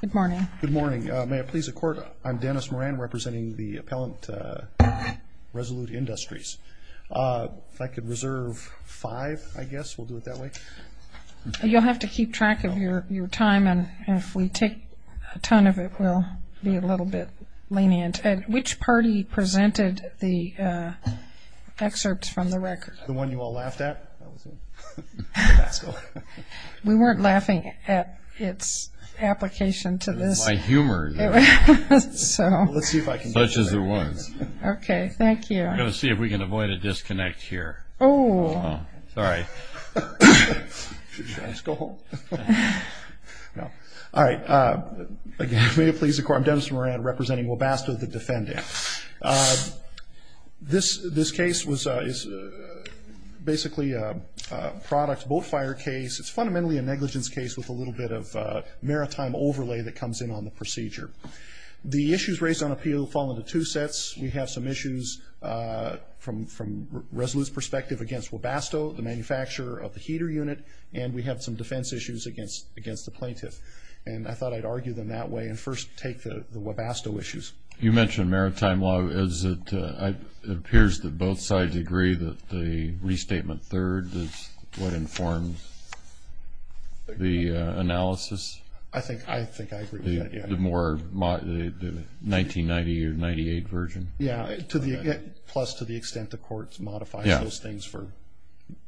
Good morning. Good morning. May it please the court, I'm Dennis Moran representing the appellant Resolute Industries. If I could reserve five I guess we'll do it that way. You'll have to keep track of your time and if we take a ton of it will be a little bit lenient. Which party presented the excerpts from the record? The one you application to this. My humor. Let's see if I can. Such as there was. Okay thank you. I'm gonna see if we can avoid a disconnect here. Oh. Sorry. Should I just go home? No. All right. May it please the court, I'm Dennis Moran representing Webasto the defendant. This this case was basically a product boat fire case. It's fundamentally a negligence case with a little bit of maritime overlay that comes in on the procedure. The issues raised on appeal fall into two sets. We have some issues from from Resolute's perspective against Webasto, the manufacturer of the heater unit, and we have some defense issues against against the plaintiff. And I thought I'd argue them that way and first take the Webasto issues. You mentioned maritime law as it appears that both sides agree that the restatement third is what informed the analysis. I think I think I agree. The more the 1990 or 98 version. Yeah to the plus to the extent the court's modified those things for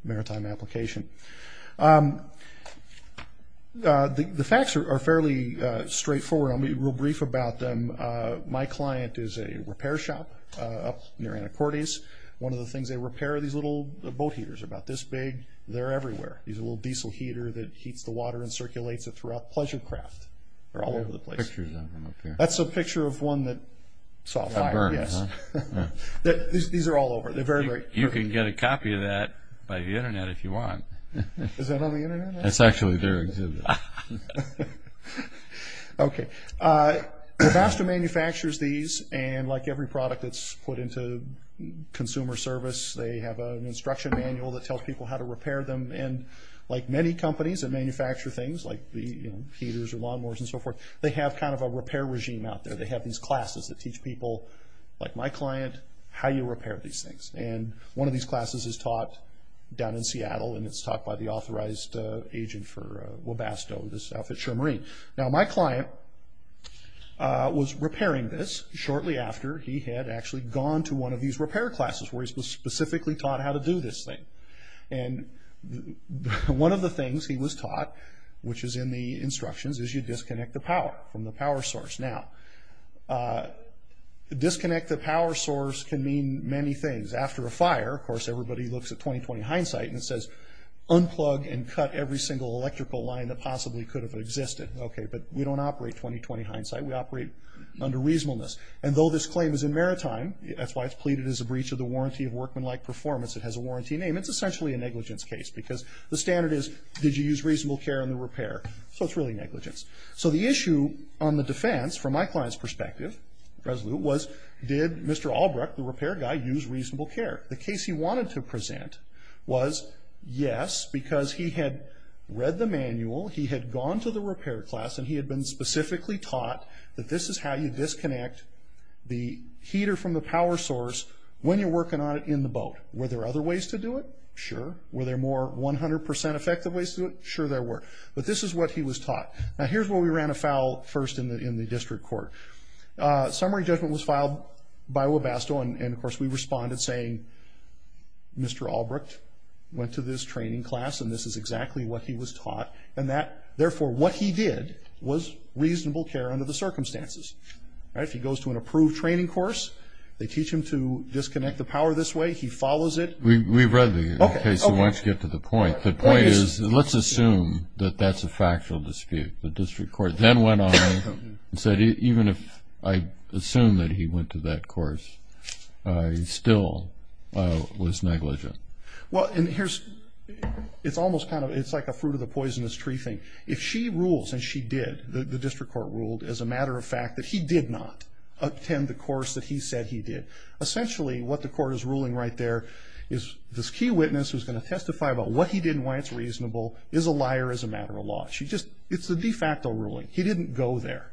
maritime application. The facts are fairly straightforward. I'll be real brief about them. My client is a repair shop up near Anacortes. One of the things they repair these little boat heaters about this big. They're everywhere. These little diesel heater that heats the water and circulates it throughout Pleasurecraft. They're all over the place. That's a picture of one that saw fire. Yes. These are all over. They're very great. You can get a copy of that by the internet if you want. Is that on the internet? That's actually their exhibit. Okay. Webasto manufactures these and like every product that's put into consumer service, they have an instruction manual that tells people how to repair them. And like many companies that manufacture things like the heaters or lawnmowers and so forth, they have kind of a repair regime out there. They have these classes that teach people like my client how you repair these things. And one of these classes is taught by the authorized agent for Webasto, this outfit show marine. Now my client was repairing this shortly after he had actually gone to one of these repair classes where he was specifically taught how to do this thing. And one of the things he was taught, which is in the instructions, is you disconnect the power from the power source. Now, disconnect the power source can mean many things. After a fire, of course, everybody looks at 20-20 hindsight and says unplug and cut every single electrical line that possibly could have existed. Okay, but we don't operate 20-20 hindsight. We operate under reasonableness. And though this claim is in maritime, that's why it's pleaded as a breach of the warranty of workmanlike performance. It has a warranty name. It's essentially a negligence case because the standard is, did you use reasonable care in the repair? So it's really negligence. So the issue on the defense, from my client's perspective, was did Mr. Albrook, the repair guy, use reasonable care? The case he wanted to present was yes, because he had read the manual, he had gone to the repair class, and he had been specifically taught that this is how you disconnect the heater from the power source when you're working on it in the boat. Were there other ways to do it? Sure. Were there more 100% effective ways to do it? Sure there were. But this is what he was taught. Now here's where we fell first in the district court. Summary judgment was filed by Webasto, and of course we responded saying, Mr. Albrook went to this training class, and this is exactly what he was taught. And that, therefore, what he did was reasonable care under the circumstances. If he goes to an approved training course, they teach him to disconnect the power this way. He follows it. We've read the case, so why don't you get to the point. The point is, let's assume that that's a case where he went on and said, even if I assume that he went to that course, he still was negligent. Well, and here's, it's almost kind of, it's like a fruit of the poisonous tree thing. If she rules, and she did, the district court ruled as a matter of fact that he did not attend the course that he said he did. Essentially, what the court is ruling right there is this key witness who's going to testify about what he did and why it's reasonable is a liar as a matter of law. She just, it's a de facto ruling. He didn't go there.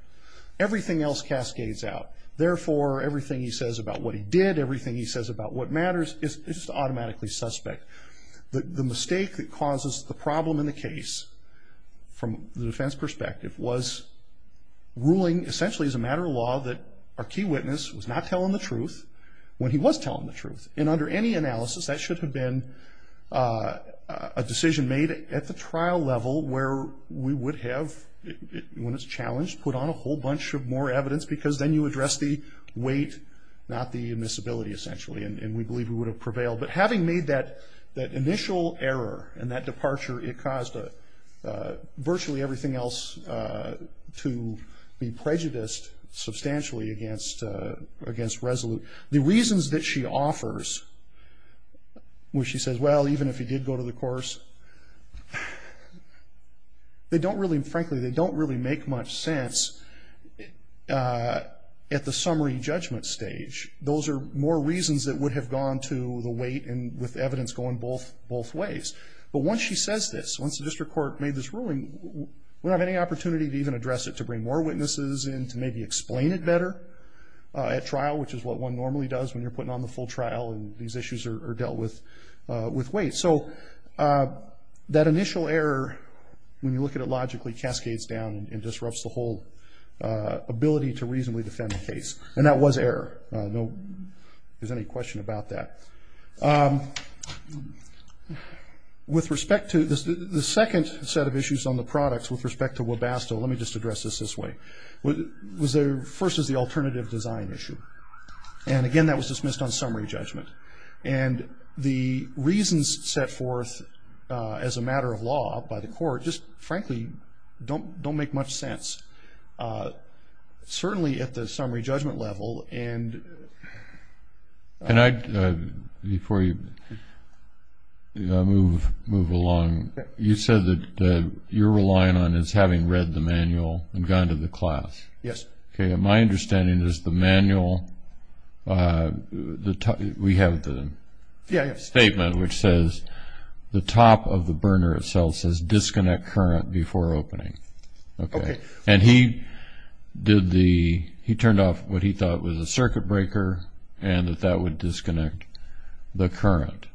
Everything else cascades out. Therefore, everything he says about what he did, everything he says about what matters, is just automatically suspect. The mistake that causes the problem in the case, from the defense perspective, was ruling essentially as a matter of law that our key witness was not telling the truth when he was telling the truth. And under any analysis, that should have been a we would have, when it's challenged, put on a whole bunch of more evidence because then you address the weight, not the admissibility, essentially. And we believe we would have prevailed. But having made that initial error and that departure, it caused virtually everything else to be prejudiced substantially against Resolute. The reasons that she offers, where she says, well, even if he did go to the course, they don't really, frankly, they don't really make much sense at the summary judgment stage. Those are more reasons that would have gone to the weight and with evidence going both ways. But once she says this, once the district court made this ruling, we don't have any opportunity to even address it, to bring more witnesses in, to maybe explain it better at trial, which is what one normally does when you're putting on the weight. So that initial error, when you look at it logically, cascades down and disrupts the whole ability to reasonably defend the case. And that was error. No, if there's any question about that. With respect to the second set of issues on the products, with respect to Webasto, let me just address this this way. Was there, first is the alternative design issue. And again, that was reasons set forth as a matter of law by the court, just frankly don't don't make much sense. Certainly at the summary judgment level. And I, before you move along, you said that you're relying on is having read the manual and gone to the class. Yes. Okay, my understanding is the manual, we have the statement which says the top of the burner itself says disconnect current before opening. Okay. And he did the, he turned off what he thought was a circuit breaker and that that would disconnect the current.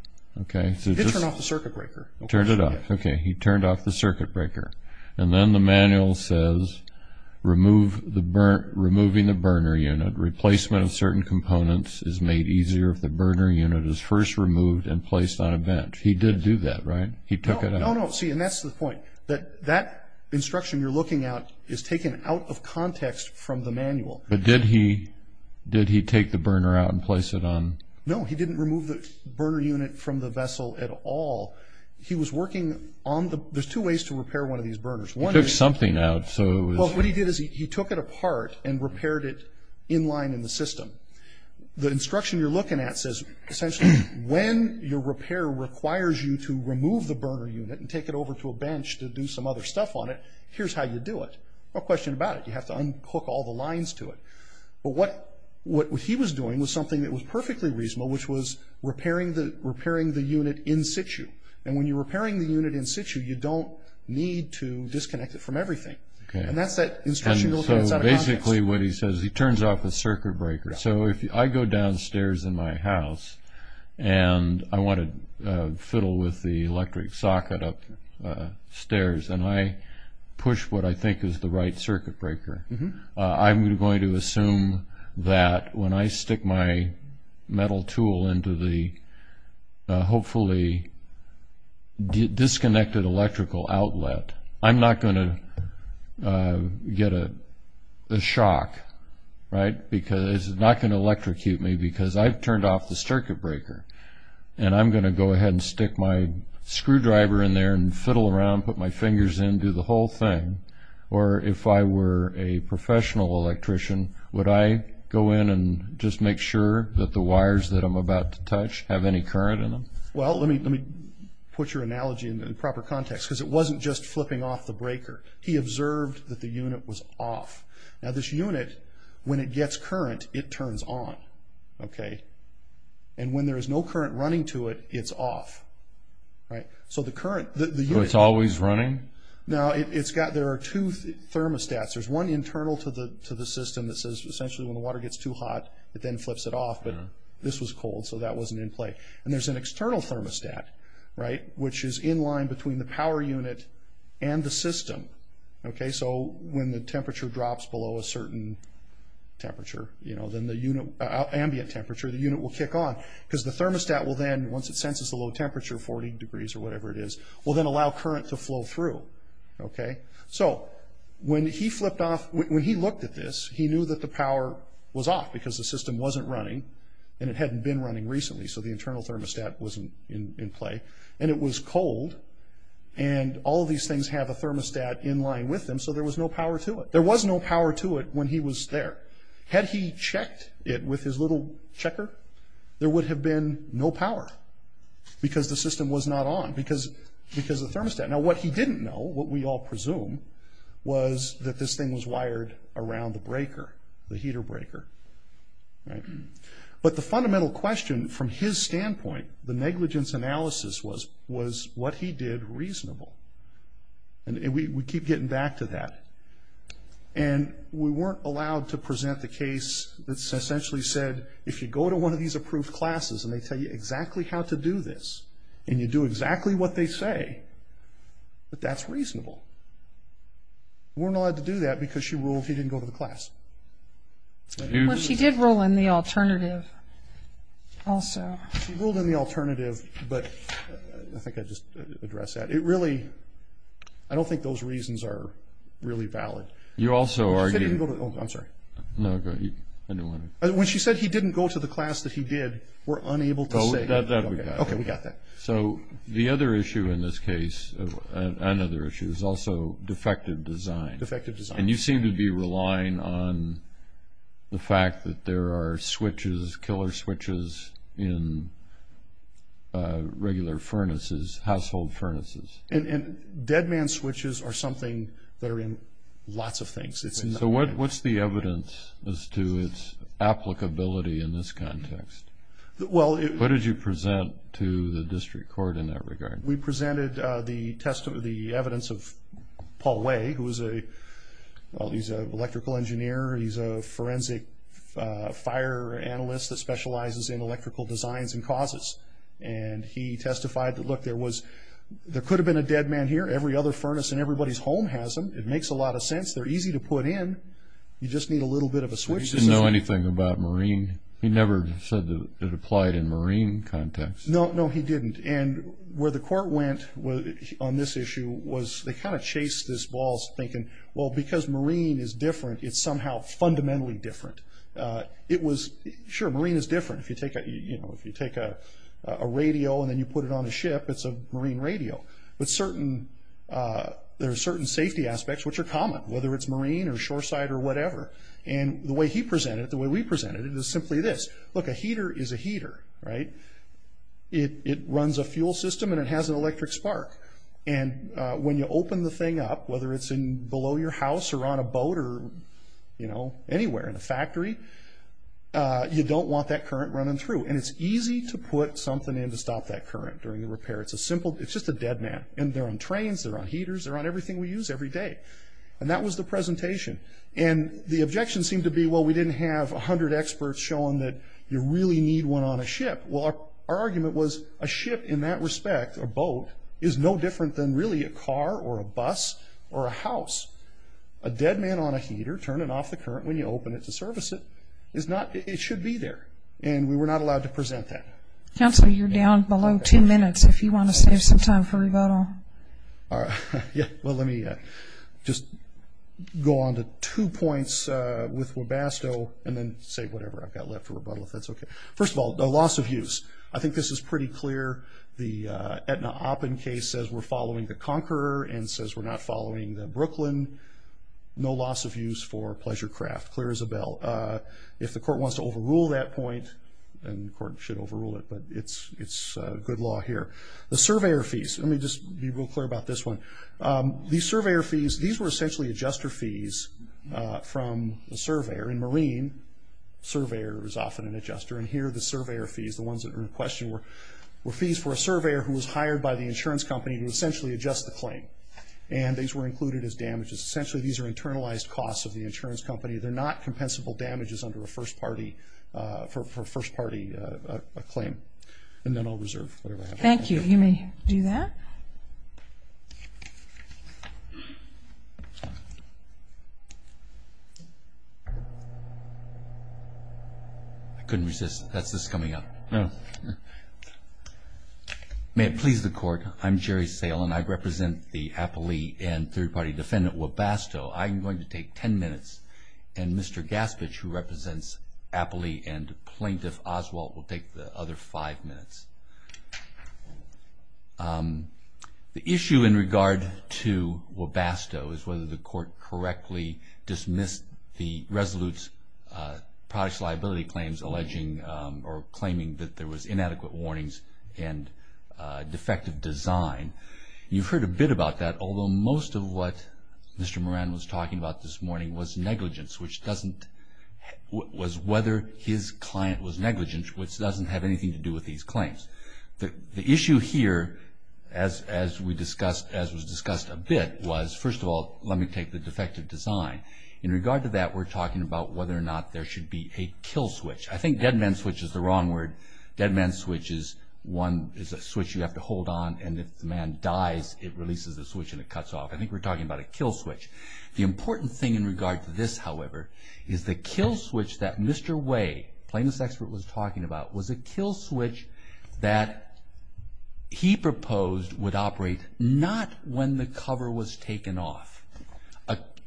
Okay. He did turn off the circuit breaker. Turned it off. Okay, he turned off the circuit breaker. And then the manual says remove the burn, removing the burner unit, replacement of certain components is made easier if the burner unit is placed on a bench. He did do that, right? He took it out. No, no, see, and that's the point that that instruction you're looking at is taken out of context from the manual. But did he, did he take the burner out and place it on? No, he didn't remove the burner unit from the vessel at all. He was working on the, there's two ways to repair one of these burners. He took something out, so. Well, what he did is he took it apart and repaired it in line in the system. The instruction you're looking at says essentially when your repair requires you to remove the burner unit and take it over to a bench to do some other stuff on it, here's how you do it. No question about it. You have to unhook all the lines to it. But what, what he was doing was something that was perfectly reasonable, which was repairing the, repairing the unit in situ. And when you're repairing the unit in situ, you don't need to disconnect it from everything. Okay. And that's that instruction you're looking at is out of context. So basically what he says, he turns off the circuit breaker. So if I go downstairs in my house and I want to fiddle with the electric socket upstairs, and I push what I think is the right circuit breaker, I'm going to assume that when I stick my metal tool into the hopefully disconnected electrical outlet, I'm not going to get a shock, right? Because it's not going to electrocute me because I've turned off the circuit breaker. And I'm going to go ahead and stick my screwdriver in there and fiddle around, put my fingers in, do the whole thing. Or if I were a professional electrician, would I go in and just make sure that the wires that I'm about to touch have any current in them? Well, let me, let me put your analogy in proper context because it wasn't just flipping off the breaker. He observed that the unit was off. Now this unit, when it gets current, it turns on. Okay? And when there is no current running to it, it's off. Right? So the current, the unit... So it's always running? Now it's got, there are two thermostats. There's one internal to the system that says essentially when the water gets too hot, it then flips it off. But this was cold, so that wasn't in play. And there's an external thermostat, right, which is in line between the power unit and the system. Okay? So when the temperature drops below a certain temperature, you know, then the unit, ambient temperature, the unit will kick on. Because the thermostat will then, once it senses the low temperature, 40 degrees or whatever it is, will then allow current to flow through. Okay? So when he flipped off, when he looked at this, he knew that the power was off because the system wasn't running. And it hadn't been running recently, so the internal thermostat wasn't in play. And it was cold. And all of these things have a thermostat in line with them, so there was no power to it. There was no power to it when he was there. Had he checked it with his little checker, there would have been no power because the system was not on, because the thermostat. Now what he didn't know, what we all presume, was that this thing was wired around the breaker, the heater breaker. Right? But the fundamental question from his standpoint, the negligence analysis was what he did was reasonable. And we keep getting back to that. And we weren't allowed to present the case that essentially said, if you go to one of these approved classes and they tell you exactly how to do this, and you do exactly what they say, that that's reasonable. We weren't allowed to do that because she ruled he didn't go to the class. Well, she did rule in the alternative also. She ruled in the alternative, but I think I just address that. It really, I don't think those reasons are really valid. You also argued... I'm sorry. No, go ahead. When she said he didn't go to the class that he did, we're unable to say... Okay, we got that. So the other issue in this case, another issue, is also defective design. And you seem to be relying on the fact that there are switches, killer switches, in regular furnaces, household furnaces. And dead man switches are something that are in lots of things. So what's the evidence as to its applicability in this context? What did you present to the court? Paul Way, who is a, well, he's an electrical engineer. He's a forensic fire analyst that specializes in electrical designs and causes. And he testified that, look, there was, there could have been a dead man here. Every other furnace in everybody's home has them. It makes a lot of sense. They're easy to put in. You just need a little bit of a switch. Did he know anything about marine? He never said that it applied in marine context. No, no, he didn't. And where the court went on this issue was they kind of chased this ball thinking, well, because marine is different, it's somehow fundamentally different. It was, sure, marine is different. If you take a radio and then you put it on a ship, it's a marine radio. But there are certain safety aspects which are common, whether it's marine or shore side or whatever. And the way he presented it, the way we presented it, is simply this. Look, a heater is a heater, right? It runs a fuel system and it has an when you open the thing up, whether it's below your house or on a boat or, you know, anywhere, in a factory, you don't want that current running through. And it's easy to put something in to stop that current during the repair. It's a simple, it's just a dead man. And they're on trains, they're on heaters, they're on everything we use every day. And that was the presentation. And the objection seemed to be, well, we didn't have 100 experts showing that you really need one on a ship. Well, our argument was a ship in that respect, or boat, is no different than really a car or a bus or a house. A dead man on a heater, turning off the current when you open it to service it, is not, it should be there. And we were not allowed to present that. Councilor, you're down below two minutes if you want to save some time for rebuttal. All right. Yeah, well, let me just go on to two points with Webasto and then say whatever I've got left for rebuttal if that's okay. First of all, the loss of use is clear. The Aetna-Oppen case says we're following the Conqueror and says we're not following the Brooklyn. No loss of use for Pleasurecraft. Clear as a bell. If the court wants to overrule that point, and the court should overrule it, but it's good law here. The surveyor fees. Let me just be real clear about this one. These surveyor fees, these were essentially adjuster fees from the surveyor. In marine, surveyor is often an adjuster. And here, the surveyor fees, the ones that are in question, were fees for a surveyor who was hired by the insurance company to essentially adjust the claim. And these were included as damages. Essentially, these are internalized costs of the insurance company. They're not compensable damages under a first-party, for a first-party claim. And then I'll reserve whatever I have. Thank you. You may do that. I couldn't resist. That's this coming up. May it please the court. I'm Jerry Sale, and I represent the Appley and third-party defendant, Webasto. I'm going to take 10 minutes, and Mr. Gaspich, who represents Appley and Plaintiff Oswald, will take the other five minutes. The issue in regard to Webasto is whether the court correctly dismissed the Resolute's products liability claims alleging or claiming that there was inadequate warnings and defective design. You've heard a bit about that, although most of what Mr. Moran was talking about this morning was negligence, which doesn't, was whether his client was negligent, which doesn't have anything to do with these claims. The issue here, as we discussed, as was discussed a bit, was, first of all, let me take the defective design. In regard to that, we're talking about whether or not there should be a kill switch. I think dead man switch is the wrong word. Dead man switch is one, is a switch you have to hold on, and if the man dies, it releases the switch and it cuts off. I think we're talking about a kill switch. The important thing in regard to this, however, is the kill switch that Mr. Way, plaintiff's expert, was talking about was a kill switch that he proposed would operate not when the cover was taken off,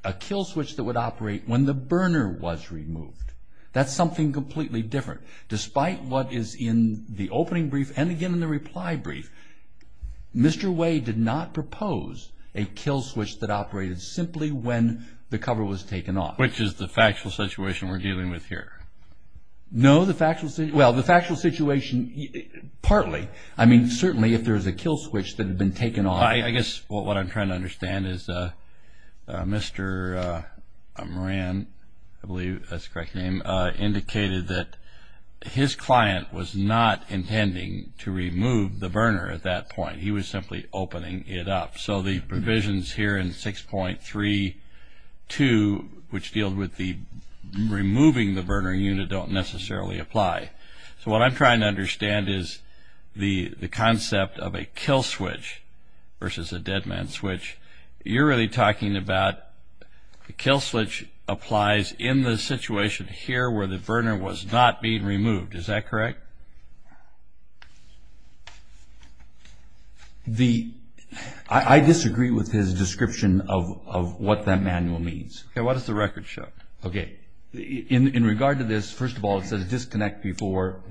a kill switch that would operate when the burner was removed. That's something completely different. Despite what is in the opening brief and, again, in the reply brief, Mr. Way did not propose a kill switch that operated simply when the cover was taken off. Which is the factual situation we're dealing with here? No, the factual, well, the factual situation, partly. I mean, certainly, if there's a kill switch that had been taken off. I guess what I'm trying to understand is Mr. Moran, I believe that's the correct name, indicated that his client was not intending to remove the burner at that point. He was simply opening it up. So the provisions here in 6.32, which deal with the removing the burner unit, don't necessarily apply. So what I'm trying to understand is the concept of a kill switch versus a dead man switch. You're really talking about the kill switch applies in the situation here where the burner was not being removed. Is that correct? Correct. I disagree with his description of what that manual means. Okay, what does the record show? Okay. In regard to this, first of all, it says disconnect before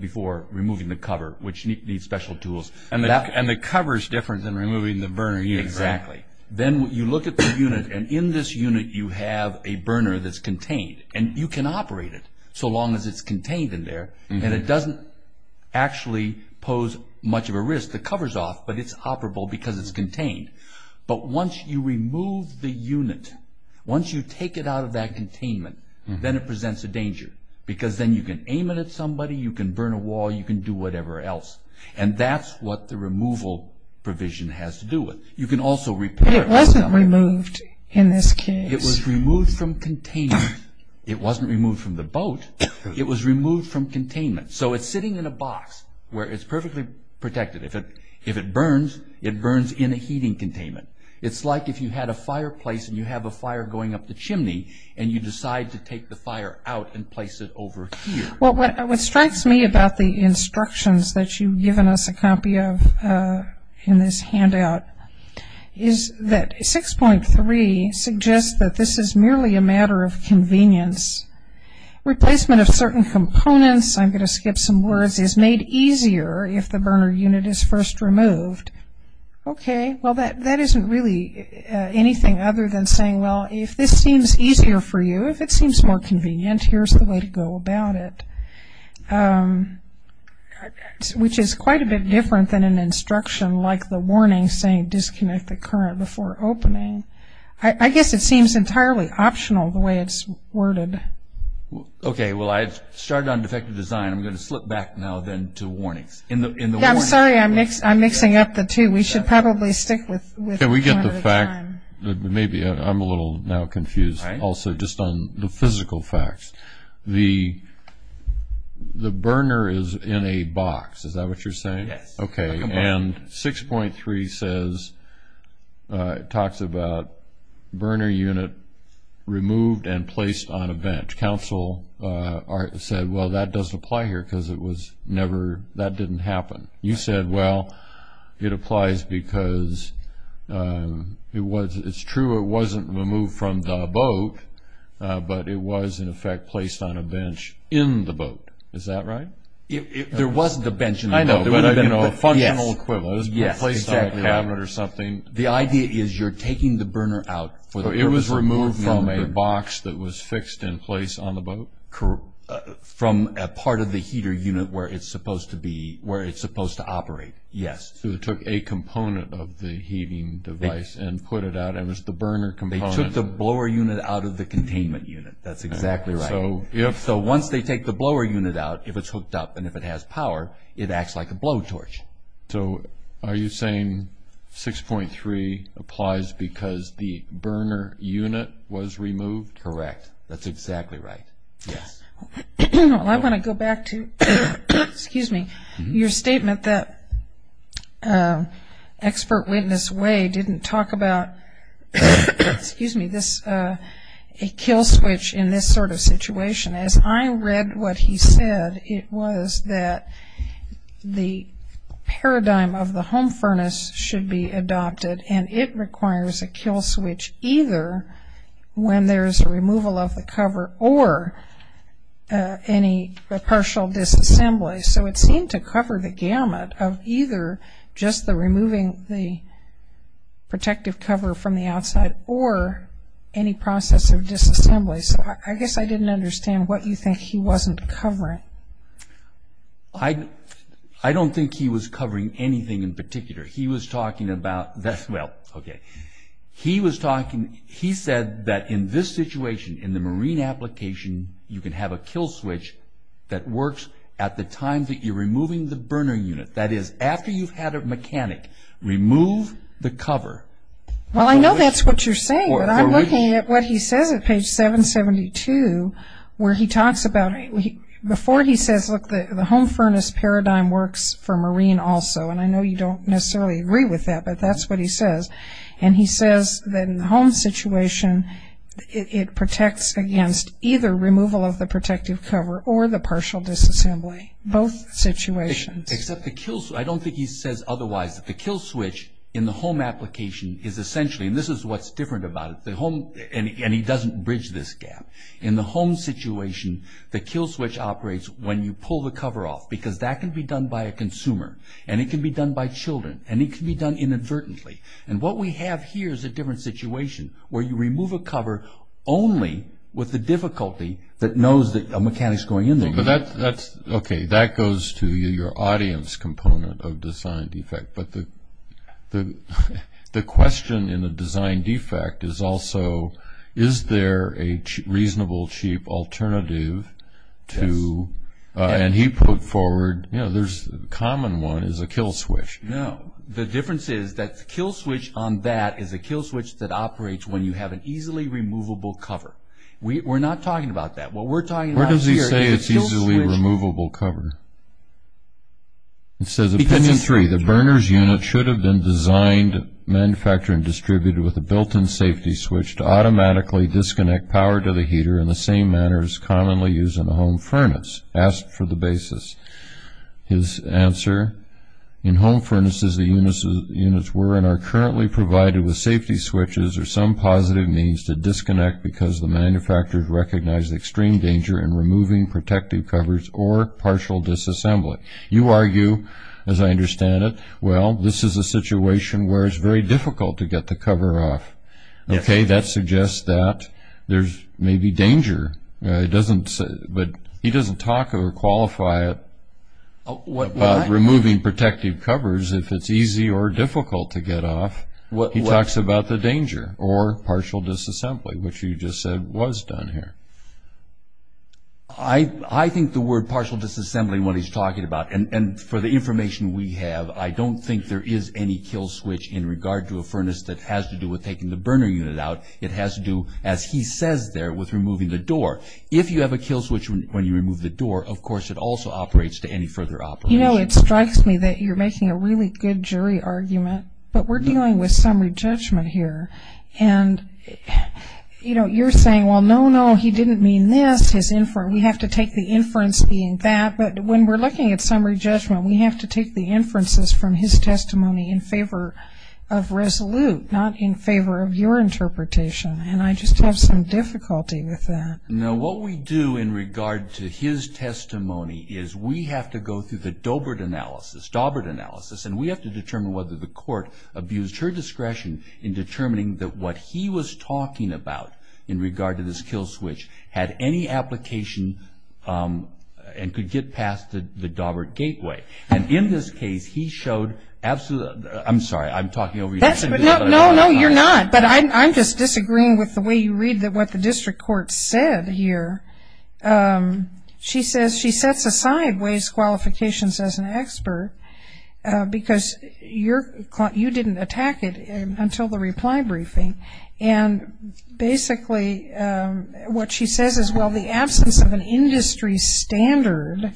removing the cover, which needs special tools. And the cover's different than removing the burner unit, right? Exactly. Then you look at the unit, and in this unit you have a burner that's contained. And you can operate it so long as it's contained in there. And it doesn't actually pose much of a risk. The cover's off, but it's operable because it's contained. But once you remove the unit, once you take it out of that containment, then it presents a danger. Because then you can aim it at somebody, you can burn a wall, you can do whatever else. And that's what the removal provision has to do with. You can also repair it. But it wasn't removed in this case. It was removed from containment. It wasn't removed from the boat. It was sitting in a box where it's perfectly protected. If it burns, it burns in a heating containment. It's like if you had a fireplace and you have a fire going up the chimney, and you decide to take the fire out and place it over here. Well, what strikes me about the instructions that you've given us a copy of in this handout is that 6.3 suggests that this is merely a matter of some words, is made easier if the burner unit is first removed. Okay. Well, that isn't really anything other than saying, well, if this seems easier for you, if it seems more convenient, here's the way to go about it. Which is quite a bit different than an instruction like the warning saying disconnect the current before opening. I guess it seems entirely optional the way it's worded. Okay. Well, I've started on defective design. I'm going to slip back now then to warnings. In the warning. Yeah, I'm sorry. I'm mixing up the two. We should probably stick with one at a time. Can we get the fact, maybe I'm a little now confused also just on the physical facts. The burner is in a box. Is that what you're saying? Yes. Okay. And 6.3 says, talks about burner unit removed and placed on a bench. Council said, well, that doesn't apply here because it was never, that didn't happen. You said, well, it applies because it was, it's true it wasn't removed from the boat, but it was in effect placed on a bench in the boat. Is that right? If there wasn't a bench in the boat. I know, but there would have been a functional equivalent, placed on a cabinet or something. The idea is you're taking the burner out for the purpose of removing it. It was removed from a box that was fixed in place on the boat? From a part of the heater unit where it's supposed to be, where it's supposed to operate. Yes. So they took a component of the heating device and put it out. It was the burner component. They took the blower unit out of the containment unit. That's exactly right. So once they take the blower unit out, if it's hooked up and if it has power, it acts like a blowtorch. So are you saying 6.3 applies because the burner unit was removed? Correct. That's exactly right. I want to go back to, excuse me, your statement that expert witness way didn't talk about a kill switch in this sort of situation. As I read what he said, it was that the paradigm of the home furnace should be adopted and it requires a kill switch either when there's a removal of the cover or any partial disassembly. So it seemed to cover the gamut of either just the removing the protective cover from the outside or any process of disassembly. So I guess I didn't understand what you think he wasn't covering. I don't think he was covering anything in particular. He was talking about, well, okay, he was talking, he said that in this situation, in the marine application, you can have a kill switch that works at the time that you're removing the burner unit. That is, after you've had a mechanic remove the cover. Well, I know that's what you're saying, but I'm looking at what he says at page 772 where he talks about, before he says, look, the home furnace paradigm works for marine also, and I know you don't necessarily agree with that, but that's what he says, and he says that in the home situation, it protects against either removal of the protective cover or the partial disassembly, both situations. Except the kill switch, I don't think he says otherwise, that the kill switch in the home application is essentially, and this is what's different about it, the home, and he doesn't bridge this gap. In the home situation, the kill switch operates when you pull the cover off, because that can be done by a consumer, and it can be done by children, and it can be done inadvertently. And what we have here is a different situation where you remove a cover only with the difficulty that knows that a mechanic's going in there. But that's, okay, that goes to your audience component of design defect. But the question in the design defect is also, is there a reasonable, cheap alternative to, and he put forward, you know, the common one is a kill switch. No, the difference is that the kill switch on that is a kill switch that we're not talking about that. What we're talking about here is a kill switch. Where does he say it's easily removable cover? It says, Opinion 3, the burner's unit should have been designed, manufactured, and distributed with a built-in safety switch to automatically disconnect power to the heater in the same manner as commonly used in a home furnace. Asked for the basis. His answer, in home furnaces, the units were and are currently provided with manufacturers recognize the extreme danger in removing protective covers or partial disassembly. You argue, as I understand it, well, this is a situation where it's very difficult to get the cover off. Okay, that suggests that there's maybe danger, but he doesn't talk or qualify it about removing protective covers if it's easy or difficult to get off. He talks about the danger or partial disassembly, which you just said, was done here. I think the word partial disassembly, what he's talking about, and for the information we have, I don't think there is any kill switch in regard to a furnace that has to do with taking the burner unit out. It has to do, as he says there, with removing the door. If you have a kill switch when you remove the door, of course, it also operates to any further operation. You know, it strikes me that you're making a really good jury argument, but we're dealing with summary judgment here. And you're saying, well, no, no, he didn't mean this. We have to take the inference being that, but when we're looking at summary judgment, we have to take the inferences from his testimony in favor of resolute, not in favor of your interpretation, and I just have some difficulty with that. Now, what we do in regard to his testimony is we have to go through the Daubert analysis, and we have to determine whether the court abused her discretion in determining that what he was talking about in regard to this kill switch had any application and could get past the Daubert gateway. And in this case, he showed absolutely, I'm sorry, I'm talking over you. That's, no, no, you're not, but I'm just disagreeing with the way you read that what the district court said here. She says she sets aside Ways Qualifications as an expert because you didn't attack it until the reply briefing. And basically, what she says is, well, the absence of an industry standard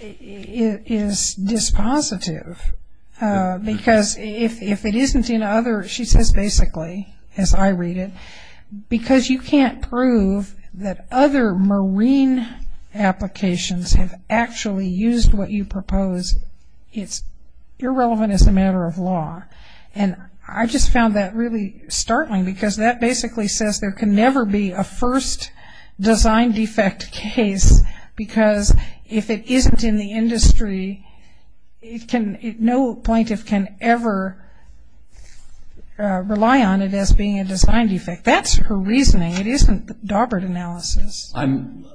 is dispositive because if it isn't in other, she says basically, as I read it, because you can't prove that other marine applications have actually used what you propose, it's irrelevant as a matter of law. And I just found that really startling because that basically says there can never be a first design defect case because if it isn't in the industry, no plaintiff can ever rely on it as being a design defect. That's her reasoning, it isn't Daubert analysis. I'm,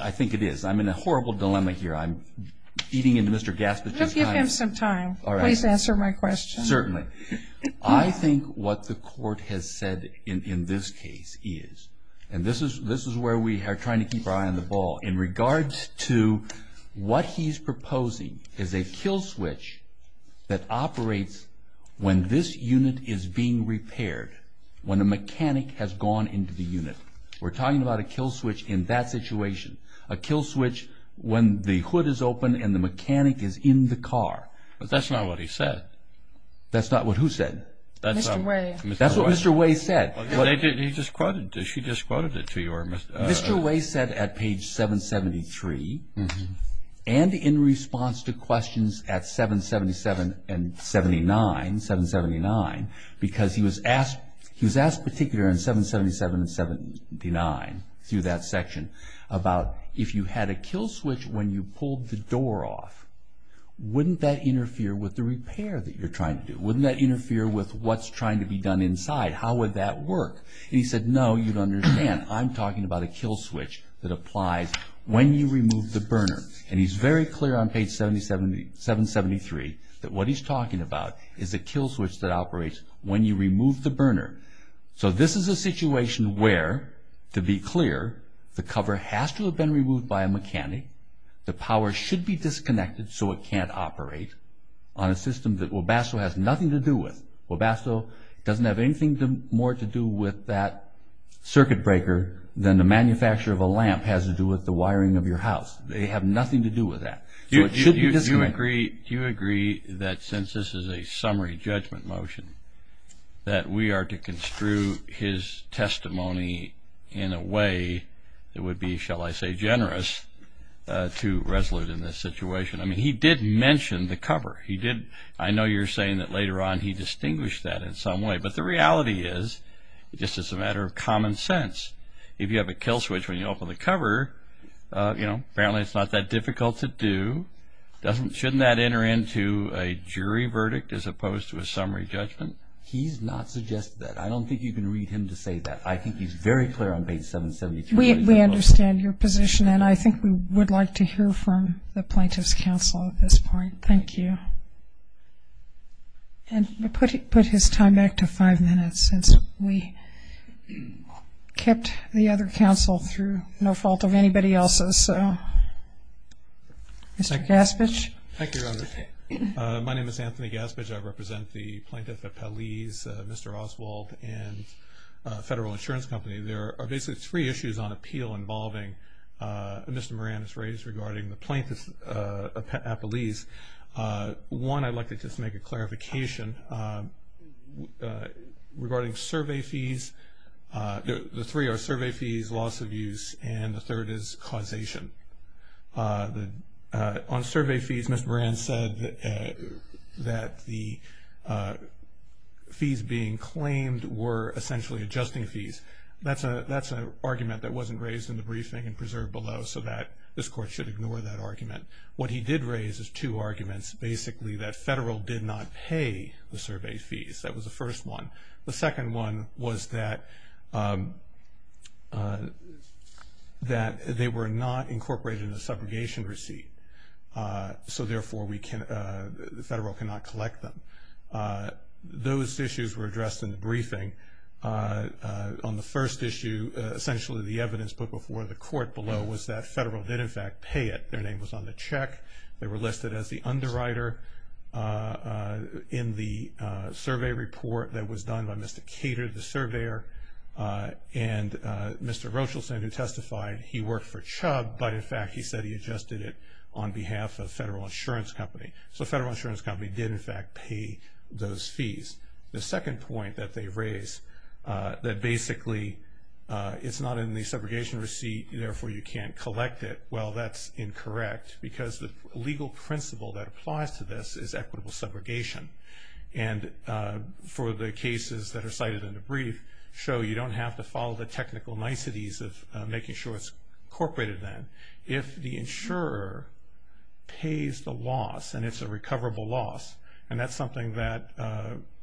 I think it is. I'm in a horrible dilemma here. I'm beating into Mr. Gaspis. Give him some time, please answer my question. Certainly. I think what the court has said in this case is, and this is where we are trying to keep our eye on the ball, in regards to what he's proposing is a kill switch that operates when this unit is being repaired. When a mechanic has gone into the unit. We're talking about a kill switch in that situation. A kill switch when the hood is open and the mechanic is in the car. But that's not what he said. That's not what who said? Mr. Way. That's what Mr. Way said. He just quoted, she just quoted it to you. Mr. Way said at page 773 and in response to questions at 777 and 79, 779, because he was asked, he was asked particular in 777 and 79 through that section about if you had a kill switch when you pulled the door off, wouldn't that interfere with the repair that you're trying to do? Wouldn't that interfere with what's trying to be done inside? How would that work? And he said, no, you'd understand. I'm talking about a kill switch that applies when you remove the burner. And he's very clear on page 773 that what he's talking about is a kill switch that operates when you remove the burner. So this is a situation where, to be clear, the cover has to have been removed by a mechanic. The power should be disconnected so it can't operate on a system that Webasto has nothing to do with. Webasto doesn't have anything more to do with that circuit breaker than the manufacture of a lamp has to do with the wiring of your house. They have nothing to do with that. So it should be disconnected. Do you agree that since this is a summary judgment motion that we are to construe his testimony in a way that would be, shall I say, generous to resolute in this situation? I mean, he did mention the cover. He did. I know you're saying that later on he distinguished that in some way. But the reality is, just as a matter of common sense, if you have a kill switch when you open the cover, you know, apparently it's not that difficult to do. Doesn't, shouldn't that enter into a jury verdict as opposed to a summary judgment? He's not suggested that. I don't think you can read him to say that. I think he's very clear on page 773. We understand your position. And I think we would like to hear from the plaintiff's counsel at this point. Thank you. And we put his time back to five minutes since we kept the other counsel through no fault of anybody else's. So, Mr. Gaspich. Thank you, Your Honor. My name is Anthony Gaspich. I represent the Plaintiff Appellees, Mr. Oswald, and Federal Insurance Company. There are basically three issues on appeal involving Mr. Moran has raised regarding the Plaintiff Appellees. One, I'd like to just make a clarification regarding survey fees. The three are survey fees, loss of use, and the third is causation. On survey fees, Mr. Moran said that the fees being claimed were essentially adjusting fees. That's an argument that wasn't raised in the briefing and preserved below so that this Court should ignore that argument. What he did raise is two arguments. Basically, that Federal did not pay the survey fees. That was the first one. The second one was that they were not incorporated in the subrogation receipt. So, therefore, the Federal cannot collect them. Those issues were addressed in the briefing. On the first issue, essentially the evidence put before the Court below was that Federal did, in fact, pay it. Their name was on the check. They were listed as the underwriter in the survey report that was done by Mr. Cater, the surveyor, and Mr. Rochelson who testified he worked for Chubb, but, in fact, he said he adjusted it on behalf of Federal Insurance Company. So, Federal Insurance Company did, in fact, pay those fees. The second point that they raised, that basically it's not in the subrogation receipt, therefore, you can't collect it. Well, that's incorrect because the legal principle that applies to this is equitable subrogation. And for the cases that are cited in the brief show you don't have to follow the technical niceties of making sure it's incorporated then. If the insurer pays the loss and it's a recoverable loss, and that's something that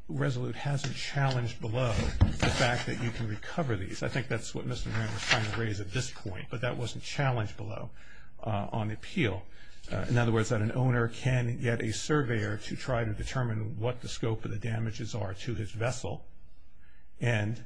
Resolute hasn't challenged below, the fact that you can recover these. I think that's what Mr. Graham was trying to raise at this point, but that wasn't challenged below. On appeal, in other words, that an owner can get a surveyor to try to determine what the scope of the damages are to his vessel, and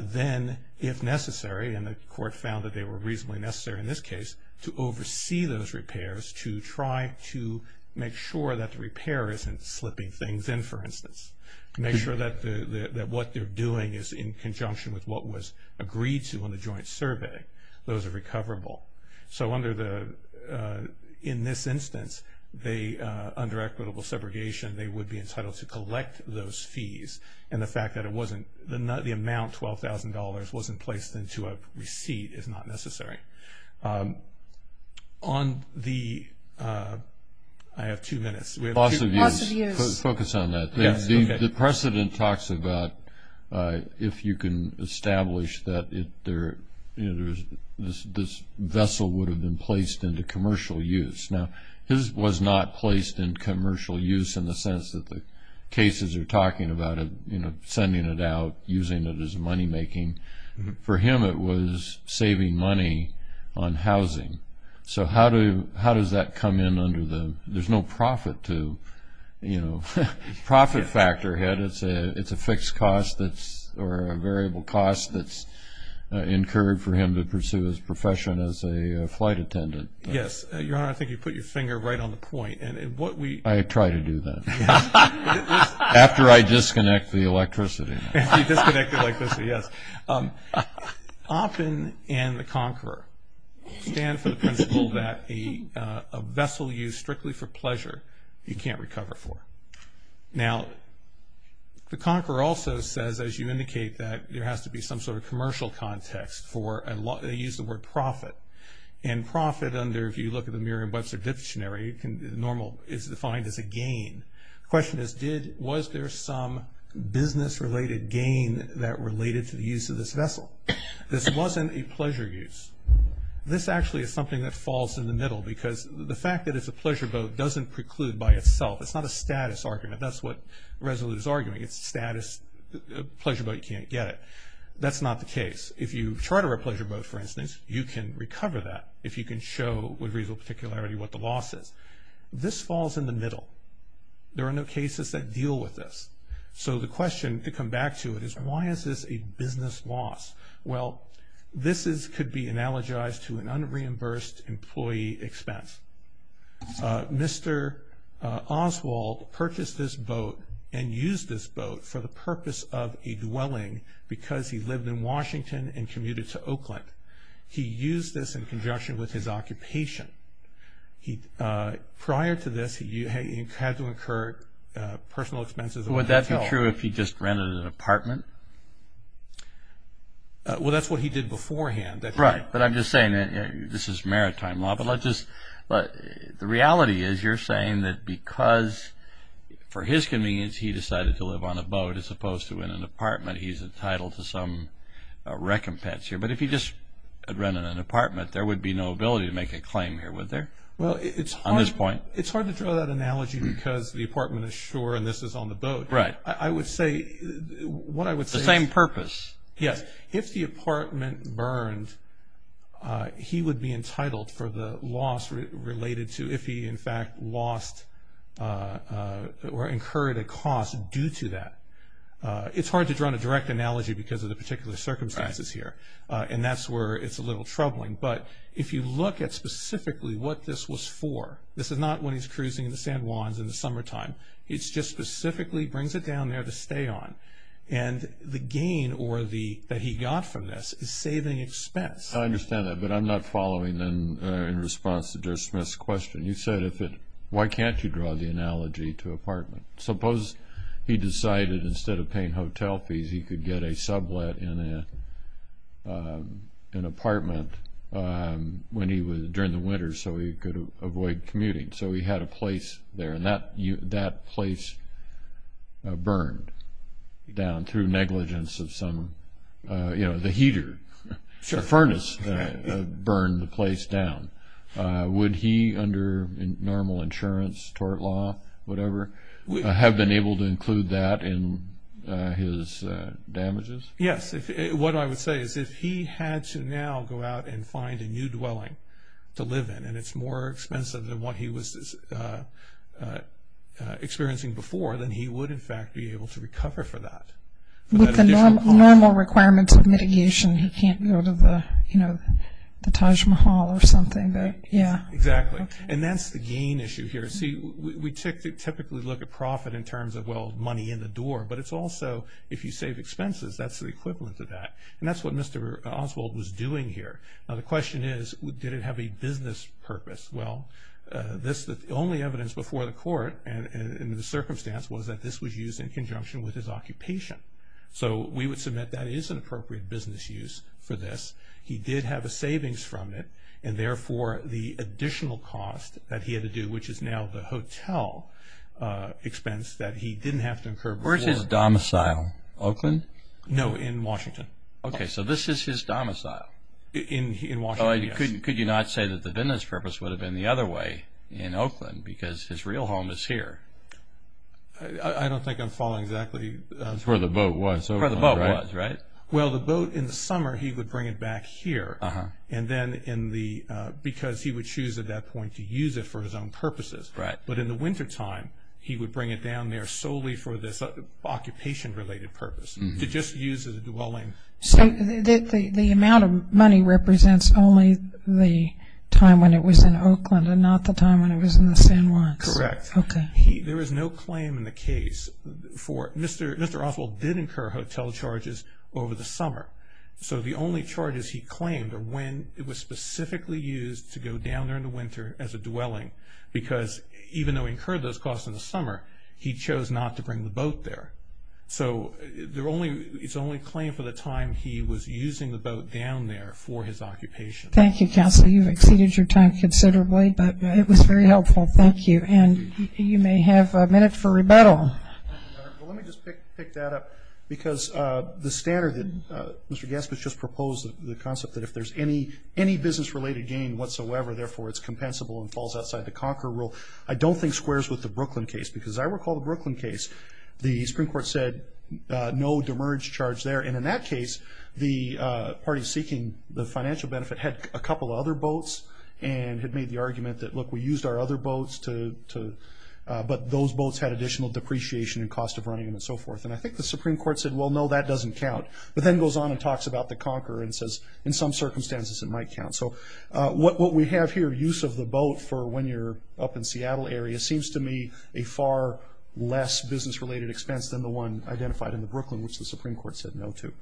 then, if necessary, and the court found that they were reasonably necessary in this case, to oversee those repairs to try to make sure that the repair isn't slipping things in, for instance. Make sure that what they're doing is in conjunction with what was agreed to on the joint survey, those are recoverable. So under the, in this instance, they, under equitable subrogation, they would be entitled to collect those fees. And the fact that it wasn't, the amount, $12,000, wasn't placed into a receipt is not necessary. On the, I have two minutes. We have two minutes. Focus on that. The precedent talks about if you can establish that there, you know, this vessel would have been placed into commercial use. Now, his was not placed in commercial use in the sense that the cases are talking about it, you know, sending it out, using it as money making. For him, it was saving money on housing. So how do, how does that come in under the, there's no profit to, you know, profit factor, Ed, it's a fixed cost that's, or a variable cost that's incurred for him to pursue his profession as a flight attendant. Yes. Your Honor, I think you put your finger right on the point. And what we. I try to do that. After I disconnect the electricity. After you disconnect the electricity, yes. Open and the conqueror stand for the principle that a vessel used strictly for pleasure, you can't recover for. Now, the conqueror also says, as you indicate, that there has to be some sort of commercial context for, they use the word profit. And profit under, if you look at the Merriam-Webster dictionary, normal is defined as a gain. The question is, was there some business related gain that related to the use of this vessel? This wasn't a pleasure use. This actually is something that falls in the middle because the fact that it's a pleasure boat doesn't preclude by itself. It's not a status argument. That's what Resolute is arguing. It's status, a pleasure boat, you can't get it. That's not the case. If you charter a pleasure boat, for instance, you can recover that if you can show with reasonable particularity what the loss is. This falls in the middle. There are no cases that deal with this. So the question, to come back to it, is why is this a business loss? Well, this could be analogized to an unreimbursed employee expense. Mr. Oswald purchased this boat and used this boat for the purpose of a dwelling because he lived in Washington and commuted to Oakland. He used this in conjunction with his occupation. Prior to this, he had to incur personal expenses of a hotel. Would that be true if he just rented an apartment? Well, that's what he did beforehand. Right. But I'm just saying that this is maritime law. But the reality is you're saying that because, for his convenience, he decided to live on a boat as opposed to in an apartment. He's entitled to some recompense here. But if he just had rented an apartment, there would be no ability to make a claim here, would there? On this point. Well, it's hard to draw that analogy because the apartment is shore and this is on the boat. Right. I would say what I would say is. The same purpose. Yes. If the apartment burned, he would be entitled for the loss related to if he, in fact, lost or incurred a cost due to that. It's hard to draw a direct analogy because of the particular circumstances here. And that's where it's a little troubling. But if you look at specifically what this was for, this is not when he's cruising in the San Juans in the summertime. It's just specifically brings it down there to stay on. And the gain or the, that he got from this is saving expense. I understand that. But I'm not following in response to Joe Smith's question. You said if it, why can't you draw the analogy to apartment? Suppose he decided instead of paying hotel fees, he could get a sublet in an apartment when he was, during the winter so he could avoid commuting. So he had a place there. And that place burned. Down through negligence of some, you know, the heater. The furnace burned the place down. Would he, under normal insurance, tort law, whatever, have been able to include that in his damages? Yes. What I would say is if he had to now go out and find a new dwelling to live in, and it's more expensive than what he was experiencing before, then he would, in fact, be able to recover for that. With the normal requirements of mitigation, he can't go to the, you know, the Taj Mahal or something, but yeah. Exactly. And that's the gain issue here. See, we typically look at profit in terms of, well, money in the door. But it's also, if you save expenses, that's the equivalent of that. And that's what Mr. Oswald was doing here. Now the question is, did it have a business purpose? Well, this, the only evidence before the court and in the circumstance was that this was used in conjunction with his occupation. So we would submit that is an appropriate business use for this. He did have a savings from it, and therefore, the additional cost that he had to do, which is now the hotel expense, that he didn't have to incur before. Where's his domicile? Oakland? No, in Washington. Okay. So this is his domicile? In Washington, yes. Could you not say that the business purpose would have been the other way, in Oakland, because his real home is here? I don't think I'm following exactly. It's where the boat was. Where the boat was, right? Well, the boat in the summer, he would bring it back here. And then in the, because he would choose at that point to use it for his own purposes. Right. But in the wintertime, he would bring it down there solely for this occupation-related purpose, to just use it as a dwelling. So the amount of money represents only the time when it was in Oakland, and not the time when it was in the San Juans? Correct. Okay. He, there is no claim in the case for, Mr. Oswald did incur hotel charges over the summer. So the only charges he claimed are when it was specifically used to go down there in the winter as a dwelling, because even though he incurred those costs in the summer, he chose not to bring the boat there. So there only, it's only claimed for the time he was using the boat down there for his occupation. Thank you, Counselor. You've exceeded your time considerably, but it was very helpful. Thank you. And you may have a minute for rebuttal. Well, let me just pick that up, because the standard that Mr. Gaspis just proposed, the concept that if there's any business-related gain whatsoever, therefore it's compensable and falls outside the Conquer rule, I don't think squares with the Brooklyn case. Because I recall the Brooklyn case, the Supreme Court said no demerge charge there. And in that case, the party seeking the financial benefit had a couple of other boats and had made the argument that, look, we used our other boats to, but those boats had additional depreciation and cost of running them and so forth. And I think the Supreme Court said, well, no, that doesn't count, but then goes on and talks about the Conquer and says, in some circumstances, it might count. So what we have here, use of the boat for when you're up in Seattle area, seems to me a far less business-related expense than the one identified in the Brooklyn, which the Supreme Court said no to,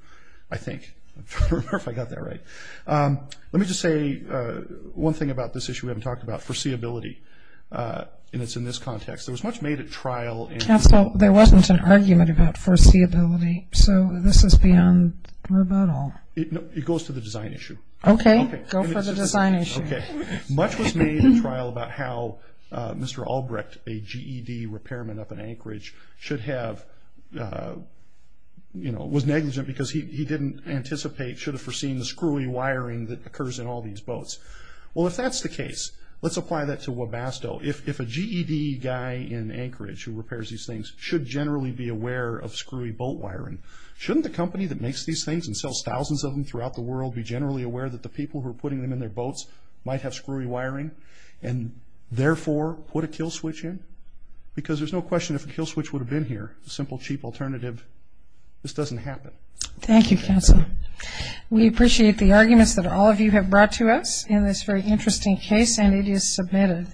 I think, if I got that right. Let me just say one thing about this issue we haven't talked about, foreseeability. And it's in this context. There was much made at trial. And so there wasn't an argument about foreseeability. So this is beyond rebuttal. It goes to the design issue. Okay. Go for the design issue. Okay. Much was made in trial about how Mr. Albrecht, a GED repairman up in Anchorage, should have, you know, was negligent because he didn't anticipate, should have foreseen the screwy wiring that occurs in all these boats. Well, if that's the case, let's apply that to Webasto. If a GED guy in Anchorage who repairs these things should generally be aware of screwy boat wiring, shouldn't the company that makes these things and sells thousands of them throughout the world be generally aware that the people who are putting them in their boats might have screwy wiring and, therefore, put a kill switch in? Because there's no question if a kill switch would have been here, a simple, cheap alternative, this doesn't happen. Thank you, counsel. We appreciate the arguments that all of you have brought to us in this very interesting case, and it is submitted.